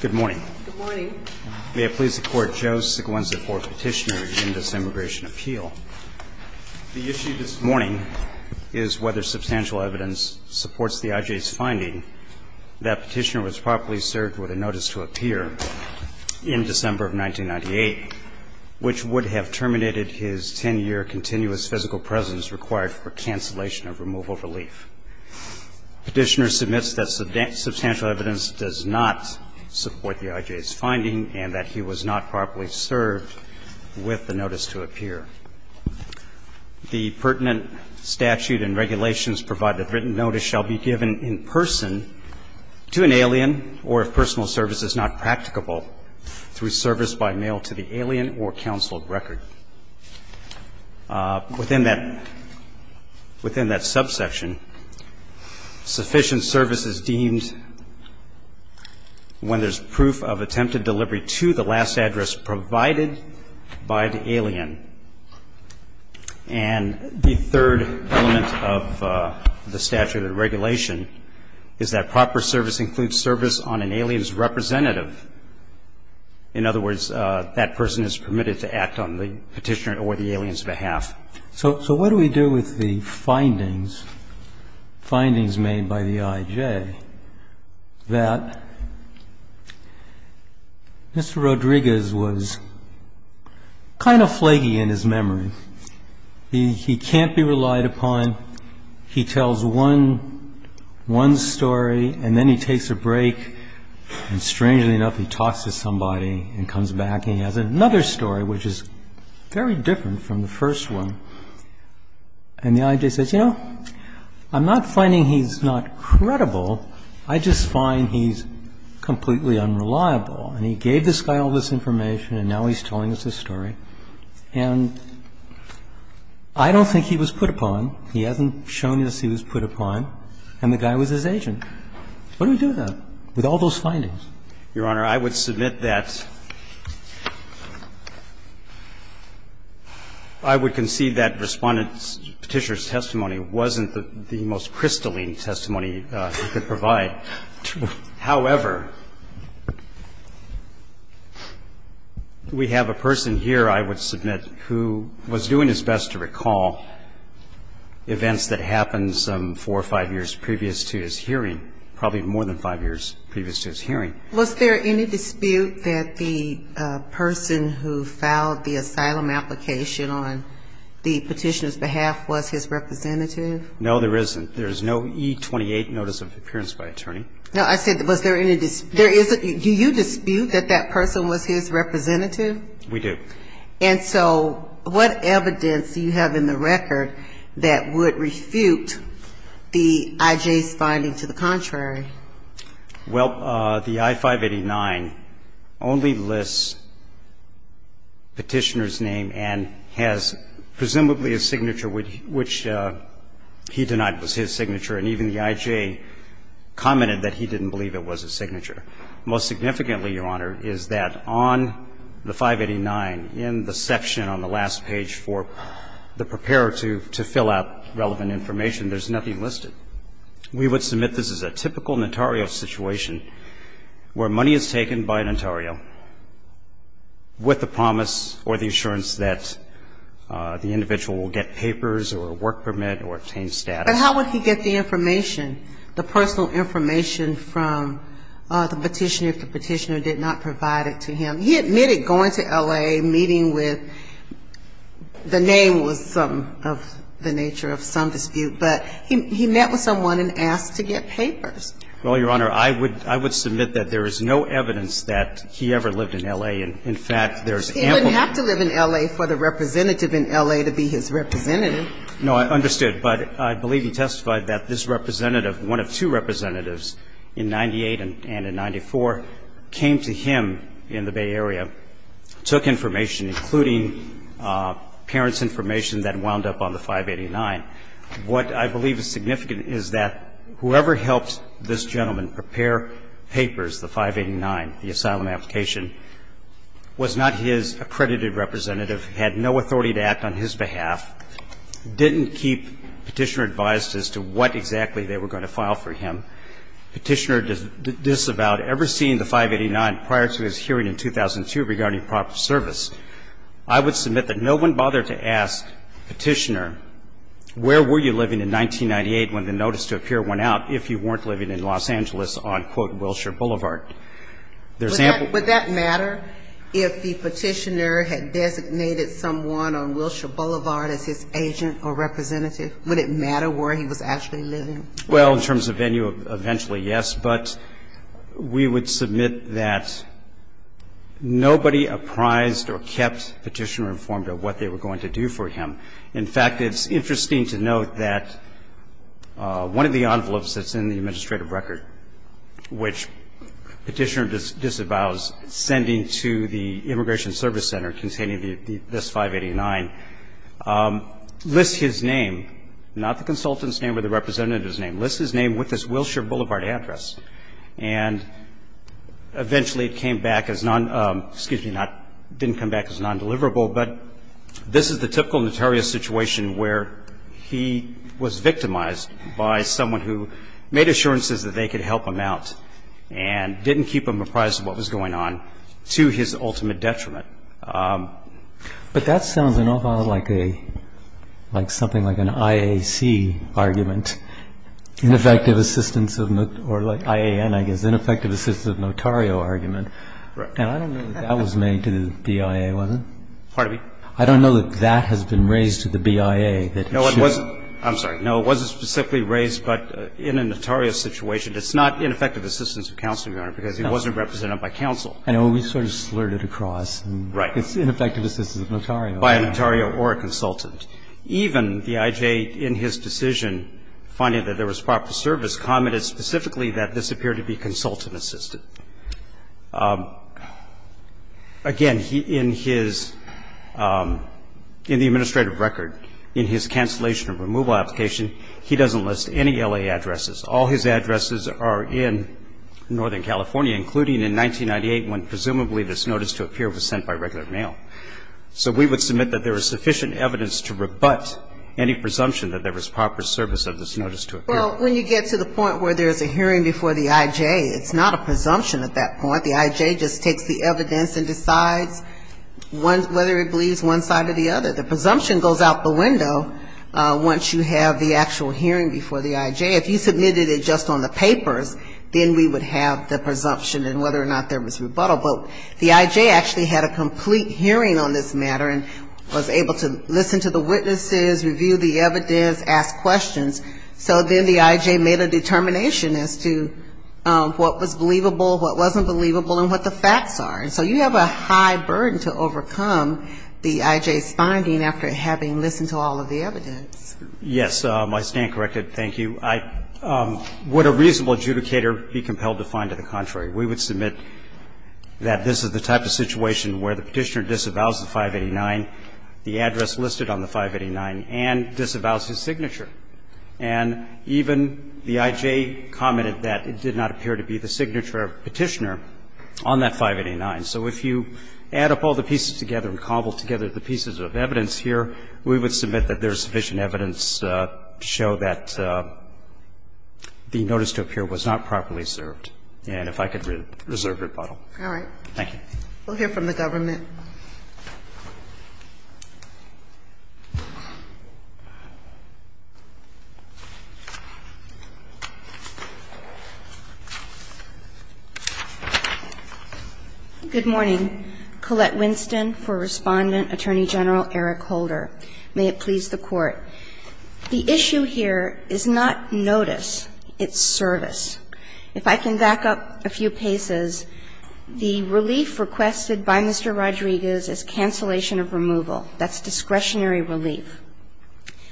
Good morning. May I please the Court, Joe Siglain's the fourth Petitioner in this immigration appeal. The issue this morning is whether substantial evidence supports the IJ's finding that Petitioner was properly served with a notice to appear in December of 1998, which would have terminated his 10-year continuous physical presence required for cancellation of removal relief. Petitioner submits that substantial evidence does not support the IJ's finding and that he was not properly served with the notice to appear. The pertinent statute and regulations provide that written notice shall be given in person to an alien or if personal service is not practicable through service by mail to the alien or counseled record. Within that subsection, sufficient service is deemed when there's proof of attempted delivery to the last address provided by the alien and the third element of the statute and regulation is that proper service includes service on an alien's representative. In other words, that person is permitted to act on the alien's behalf. And that's what the Petitioner or the alien's behalf is. So what do we do with the findings, findings made by the IJ that Mr. Rodriguez was kind of flaky in his memory, he can't be relied upon, he tells one story and then he takes a break and, strangely enough, he talks to somebody and comes back and he has another story which is very different from the first one and the IJ says, you know, I'm not finding he's not credible, I just find he's completely unreliable and he gave this guy all this information and now he's telling us his story and I don't think he was put upon, he hasn't shown us he was put upon and the guy was his agent. What do we do with that, with all those findings? Your Honor, I would submit that I would concede that Respondent Petitioner's testimony wasn't the most crystalline testimony he could provide. However, we have a person here, I would submit, who was doing his best to recall events that happened some four or five years previous to his hearing, probably more than five years previous to his hearing. Was there any dispute that the person who filed the asylum application on the Petitioner's behalf was his representative? No, there isn't. There's no E-28 notice of appearance by attorney. No, I said, was there any dispute? Do you dispute that that person was his representative? We do. And so what evidence do you have in the record that would refute the IJ's finding to the contrary? Well, the I-589 only lists Petitioner's name and has presumably a signature which he denied was his signature, and even the IJ commented that he didn't believe it was his signature. Most significantly, Your Honor, is that on the 589, in the case of the Petitioner, he admitted that this is a typical notario situation where money is taken by a notario with the promise or the assurance that the individual will get papers or a work permit or obtain status. But how would he get the information, the personal information from the Petitioner if the Petitioner did not provide it to him? He admitted going to L.A., meeting with the name was some of the nature of some dispute, but he met with someone and asked to get papers. Well, Your Honor, I would submit that there is no evidence that he ever lived in L.A. In fact, there's ample. He wouldn't have to live in L.A. for the representative in L.A. to be his representative. No, I understood. But I believe he testified that this representative, one of two parents' information that wound up on the 589. What I believe is significant is that whoever helped this gentleman prepare papers, the 589, the asylum application, was not his accredited representative, had no authority to act on his behalf, didn't keep Petitioner advised as to what exactly they were going to file for him. Petitioner disavowed ever seeing the 589 prior to his hearing in 2002 regarding improper service. I would submit that no one bothered to ask Petitioner where were you living in 1998 when the notice to appear went out if you weren't living in Los Angeles on, quote, Wilshire Boulevard. Would that matter if the Petitioner had designated someone on Wilshire Boulevard as his agent or representative? Would it matter where he was actually living? Well, in terms of venue, eventually, yes, but we would submit that nobody apprised or kept Petitioner informed of what they were going to do for him. In fact, it's interesting to note that one of the envelopes that's in the administrative record which Petitioner disavows sending to the Immigration Service Center containing this 589 lists his name, not the consultant's name or the representative's name, lists his name with his Wilshire Boulevard address. And eventually it came back as non-excuse me, didn't come back as non-deliverable, but this is the typical notorious situation where he was victimized by someone who made assurances that they could help him out and didn't keep him apprised of what was going on to his ultimate detriment. But that sounds an awful lot like a – like something like an IAC argument, ineffective assistance of – or IAN, I guess, ineffective assistance of notario argument. Right. And I don't know that that was made to the BIA, was it? Pardon me? I don't know that that has been raised to the BIA that it should. No, it wasn't. I'm sorry. No, it wasn't specifically raised, but in a notario situation, it's not ineffective assistance of counsel, Your Honor, because he wasn't represented by counsel. I know. We sort of slurred it across. Right. It's ineffective assistance of notario. By a notario or a consultant. Even the IJ, in his decision, finding that there was proper service, commented specifically that this appeared to be consultant-assisted. Again, in his – in the administrative record, in his cancellation or removal application, he doesn't list any L.A. addresses. All his addresses are in northern California, including in 1998 when presumably this notice to appear was sent by regular mail. So we would submit that there is sufficient evidence to rebut any presumption that there was proper service of this notice to appear. Well, when you get to the point where there is a hearing before the IJ, it's not a presumption at that point. The IJ just takes the evidence and decides whether it believes one side or the other. The presumption goes out the window once you have the actual hearing before the IJ. If you submitted it just on the papers, then we would have the presumption and whether or not there was rebuttal. But the IJ actually had a complete hearing on this matter and was able to listen to the witnesses, review the evidence, ask questions. So then the IJ made a determination as to what was believable, what wasn't believable, and what the facts are. So you have a high burden to overcome the IJ's finding after having listened to all of the evidence. Yes. I stand corrected. Thank you. Would a reasonable adjudicator be compelled to find to the contrary? We would submit that this is the type of situation where the Petitioner disavows the 589, the address listed on the 589, and disavows his signature. And even the IJ commented that it did not appear to be the signature of Petitioner on that 589. So if you add up all the pieces together and cobble together the pieces of evidence here, we would submit that there is sufficient evidence to show that the notice to appear was not properly served. And if I could reserve rebuttal. All right. Thank you. We'll hear from the government. Good morning. Good morning. I'm Collette Winston for Respondent Attorney General Eric Holder. May it please the Court. The issue here is not notice. It's service. If I can back up a few paces, the relief requested by Mr. Rodriguez is cancellation of removal. That's discretionary relief.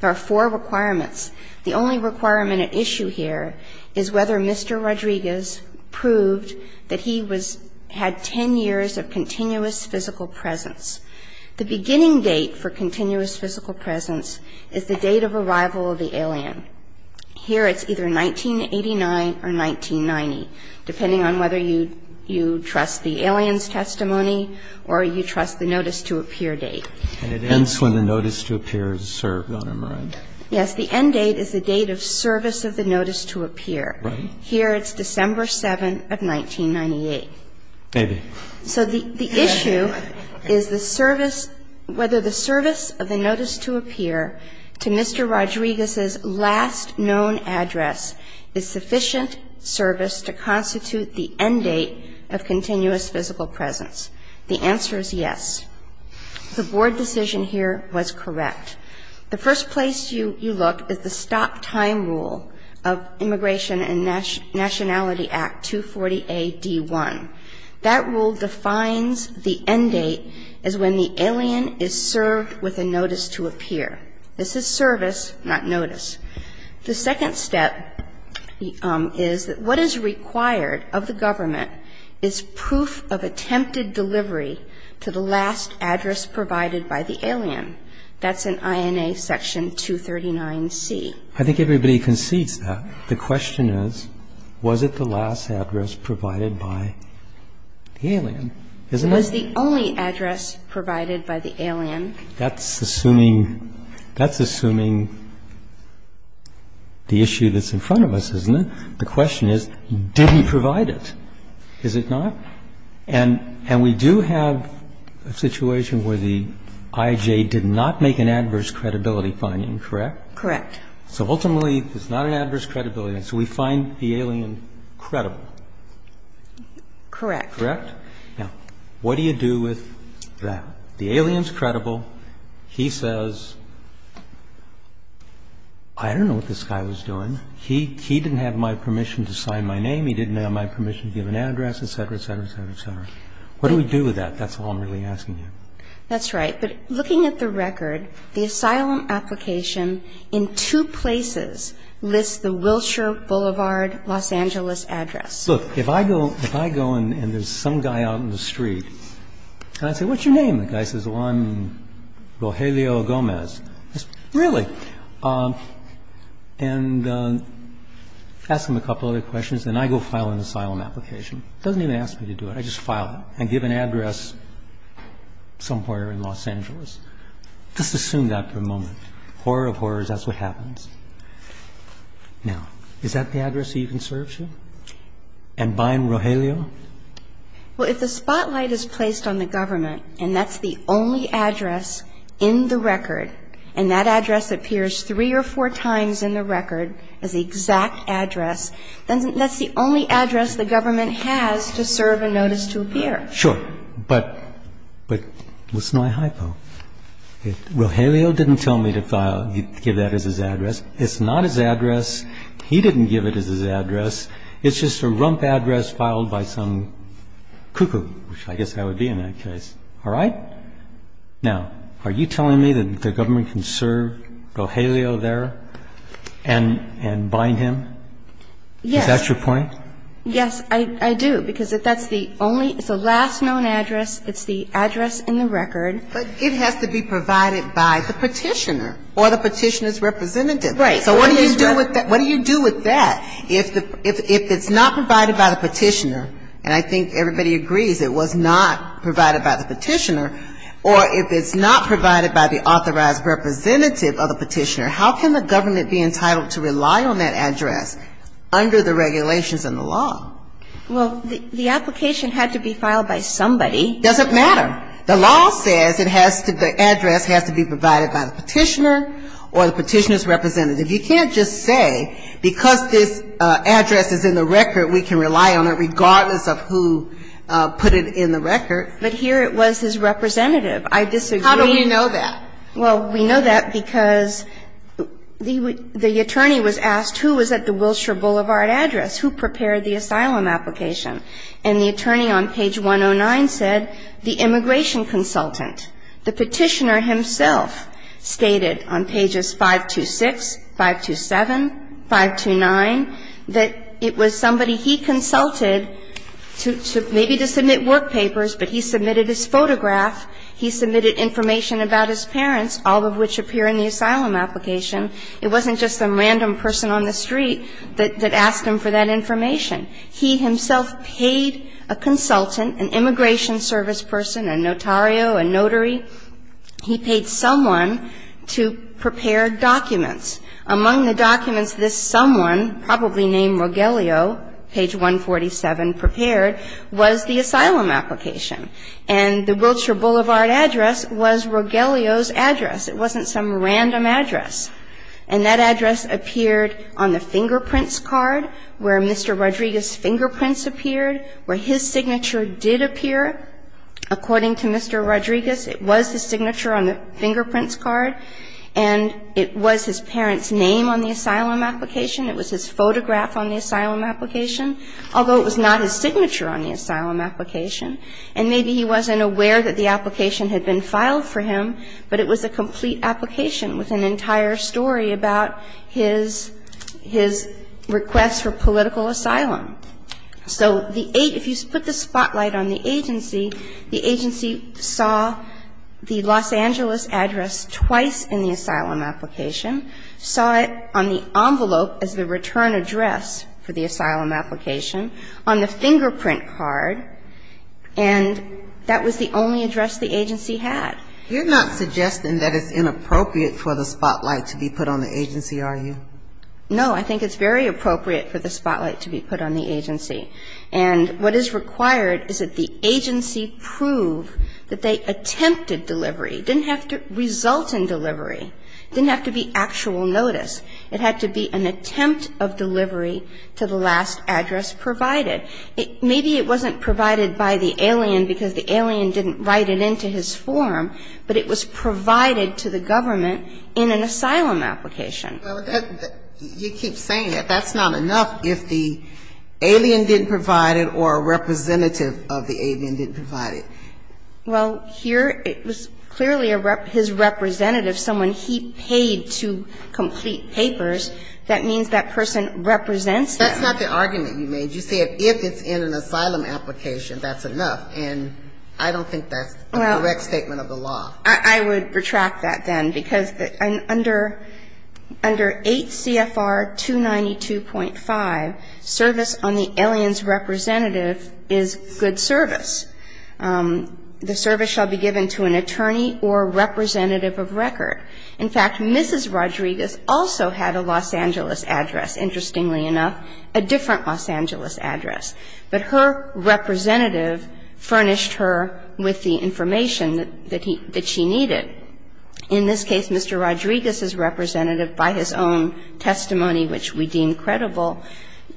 There are four requirements. The only requirement at issue here is whether Mr. Rodriguez proved that he was had 10 years of continuous physical presence. The beginning date for continuous physical presence is the date of arrival of the alien. Here it's either 1989 or 1990, depending on whether you trust the alien's testimony or you trust the notice to appear date. And it ends when the notice to appear is served on a moraine. Yes. The end date is the date of service of the notice to appear. Right. Here it's December 7th of 1998. Maybe. So the issue is the service, whether the service of the notice to appear to Mr. Rodriguez's last known address is sufficient service to constitute the end date of continuous physical presence. The answer is yes. The Board decision here was correct. The first place you look is the stop time rule of Immigration and Nationality Act, 240A.D.1. That rule defines the end date as when the alien is served with a notice to appear. This is service, not notice. The second step is that what is required of the government is proof of attempted delivery to the last address provided by the alien. That's in INA Section 239C. I think everybody concedes that. The question is, was it the last address provided by the alien? It was the only address provided by the alien. That's assuming the issue that's in front of us, isn't it? The question is, did he provide it? Is it not? And we do have a situation where the IJ did not make an adverse credibility finding, correct? Correct. So ultimately, it's not an adverse credibility, and so we find the alien credible. Correct. Correct? Now, what do you do with that? The alien's credible. He says, I don't know what this guy was doing. He didn't have my permission to sign my name. He didn't have my permission to give an address, et cetera, et cetera, et cetera, et cetera. What do we do with that? That's all I'm really asking you. That's right. But looking at the record, the asylum application in two places lists the Wilshire Boulevard, Los Angeles address. Look, if I go and there's some guy out in the street, and I say, what's your name? The guy says, well, I'm Rogelio Gomez. I say, really? And ask him a couple other questions, and I go file an asylum application. He doesn't even ask me to do it. I just file it and give an address somewhere in Los Angeles. Just assume that for a moment. Horror of horrors, that's what happens. Now, is that the address he even serves you? And by Rogelio? Well, if the spotlight is placed on the government, and that's the only address in the record, and that address appears three or four times in the record as the exact address, then that's the only address the government has to serve a notice to appear. Sure. But what's my hypo? Rogelio didn't tell me to give that as his address. It's not his address. He didn't give it as his address. It's just a rump address filed by some cuckoo, which I guess that would be in that case. All right? Now, are you telling me that the government can serve Rogelio there and bind him? Yes. Is that your point? Yes, I do, because that's the only – it's the last known address. It's the address in the record. But it has to be provided by the Petitioner or the Petitioner's representative. Right. So what do you do with that? What do you do with that? If it's not provided by the Petitioner, and I think everybody agrees it was not provided by the Petitioner, or if it's not provided by the authorized representative of the Petitioner, how can the government be entitled to rely on that address under the regulations in the law? Well, the application had to be filed by somebody. It doesn't matter. The law says it has to – the address has to be provided by the Petitioner or the Petitioner's representative. You can't just say because this address is in the record, we can rely on it regardless of who put it in the record. But here it was his representative. I disagree. How do we know that? Well, we know that because the attorney was asked who was at the Wilshire Boulevard address, who prepared the asylum application. And the attorney on page 109 said the immigration consultant. The Petitioner himself stated on pages 526, 527, 529, that it was somebody he consulted maybe to submit work papers, but he submitted his photograph. He submitted information about his parents, all of which appear in the asylum application. It wasn't just some random person on the street that asked him for that information. He himself paid a consultant, an immigration service person, a notario, a notary. He paid someone to prepare documents. Among the documents this someone, probably named Rogelio, page 147, prepared was the asylum application. And the Wilshire Boulevard address was Rogelio's address. It wasn't some random address. And that address appeared on the fingerprints card where Mr. Rodriguez's fingerprints appeared, where his signature did appear. According to Mr. Rodriguez, it was his signature on the fingerprints card, and it was his parents' name on the asylum application. It was his photograph on the asylum application, although it was not his signature on the asylum application. And maybe he wasn't aware that the application had been filed for him, but it was a complete application with an entire story about his requests for political asylum. So the eight, if you put the spotlight on the agency, the agency saw the Los Angeles address twice in the asylum application. Saw it on the envelope as the return address for the asylum application on the fingerprint card, and that was the only address the agency had. You're not suggesting that it's inappropriate for the spotlight to be put on the agency, are you? No. I think it's very appropriate for the spotlight to be put on the agency. And what is required is that the agency prove that they attempted delivery, didn't have to result in delivery. Didn't have to be actual notice. It had to be an attempt of delivery to the last address provided. Maybe it wasn't provided by the alien because the alien didn't write it into his form, but it was provided to the government in an asylum application. Well, you keep saying that that's not enough if the alien didn't provide it or a representative of the alien didn't provide it. Well, here it was clearly his representative, someone he paid to complete papers. That means that person represents him. That's not the argument you made. You said if it's in an asylum application, that's enough. And I don't think that's a correct statement of the law. Well, I would retract that then because under 8 CFR 292.5, service on the alien's representative is good service. The service shall be given to an attorney or representative of record. In fact, Mrs. Rodriguez also had a Los Angeles address, interestingly enough, a different Los Angeles address. But her representative furnished her with the information that she needed. In this case, Mr. Rodriguez's representative by his own testimony, which we deem credible,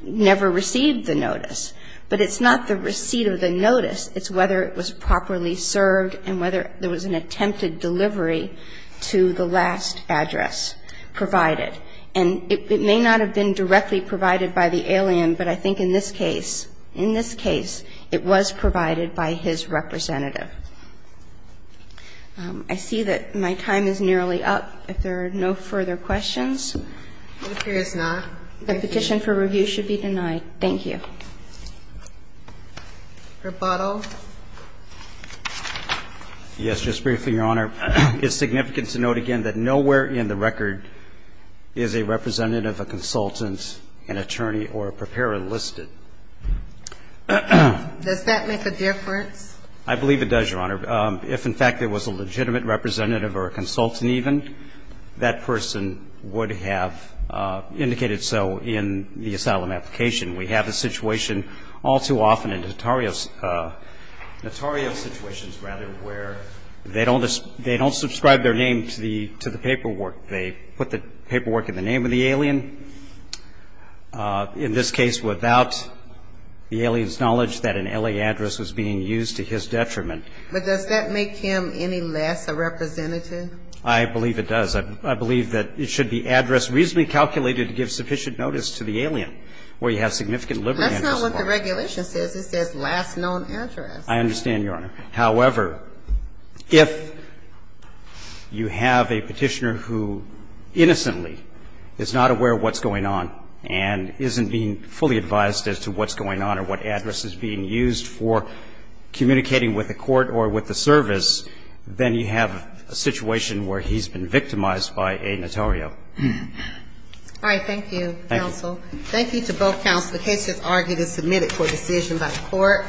never received the notice. But it's not the receipt of the notice. It's whether it was properly served and whether there was an attempted delivery to the last address provided. And it may not have been directly provided by the alien, but I think in this case it was provided by his representative. I see that my time is nearly up. If there are no further questions. The petition for review should be denied. Thank you. Rebuttal. Yes. Just briefly, Your Honor. It's significant to note again that nowhere in the record is a representative, a consultant, an attorney, or a preparer listed. Does that make a difference? I believe it does, Your Honor. If, in fact, there was a legitimate representative or a consultant even, that person would have indicated so in the asylum application. We have a situation all too often in notarial situations, rather, where they don't subscribe their name to the paperwork. They put the paperwork in the name of the alien, in this case without the alien's knowledge that an L.A. address was being used to his detriment. But does that make him any less a representative? I believe it does. I believe that it should be address reasonably calculated to give sufficient notice to the alien, where you have significant liberty. That's not what the regulation says. It says last known address. I understand, Your Honor. However, if you have a petitioner who innocently is not aware of what's going on and isn't being fully advised as to what's going on or what address is being used for communicating with the court or with the service, then you have a situation where he's been victimized by a notario. All right. Thank you, counsel. Thank you. Thank you to both counsel. The case is argued and submitted for decision by the court.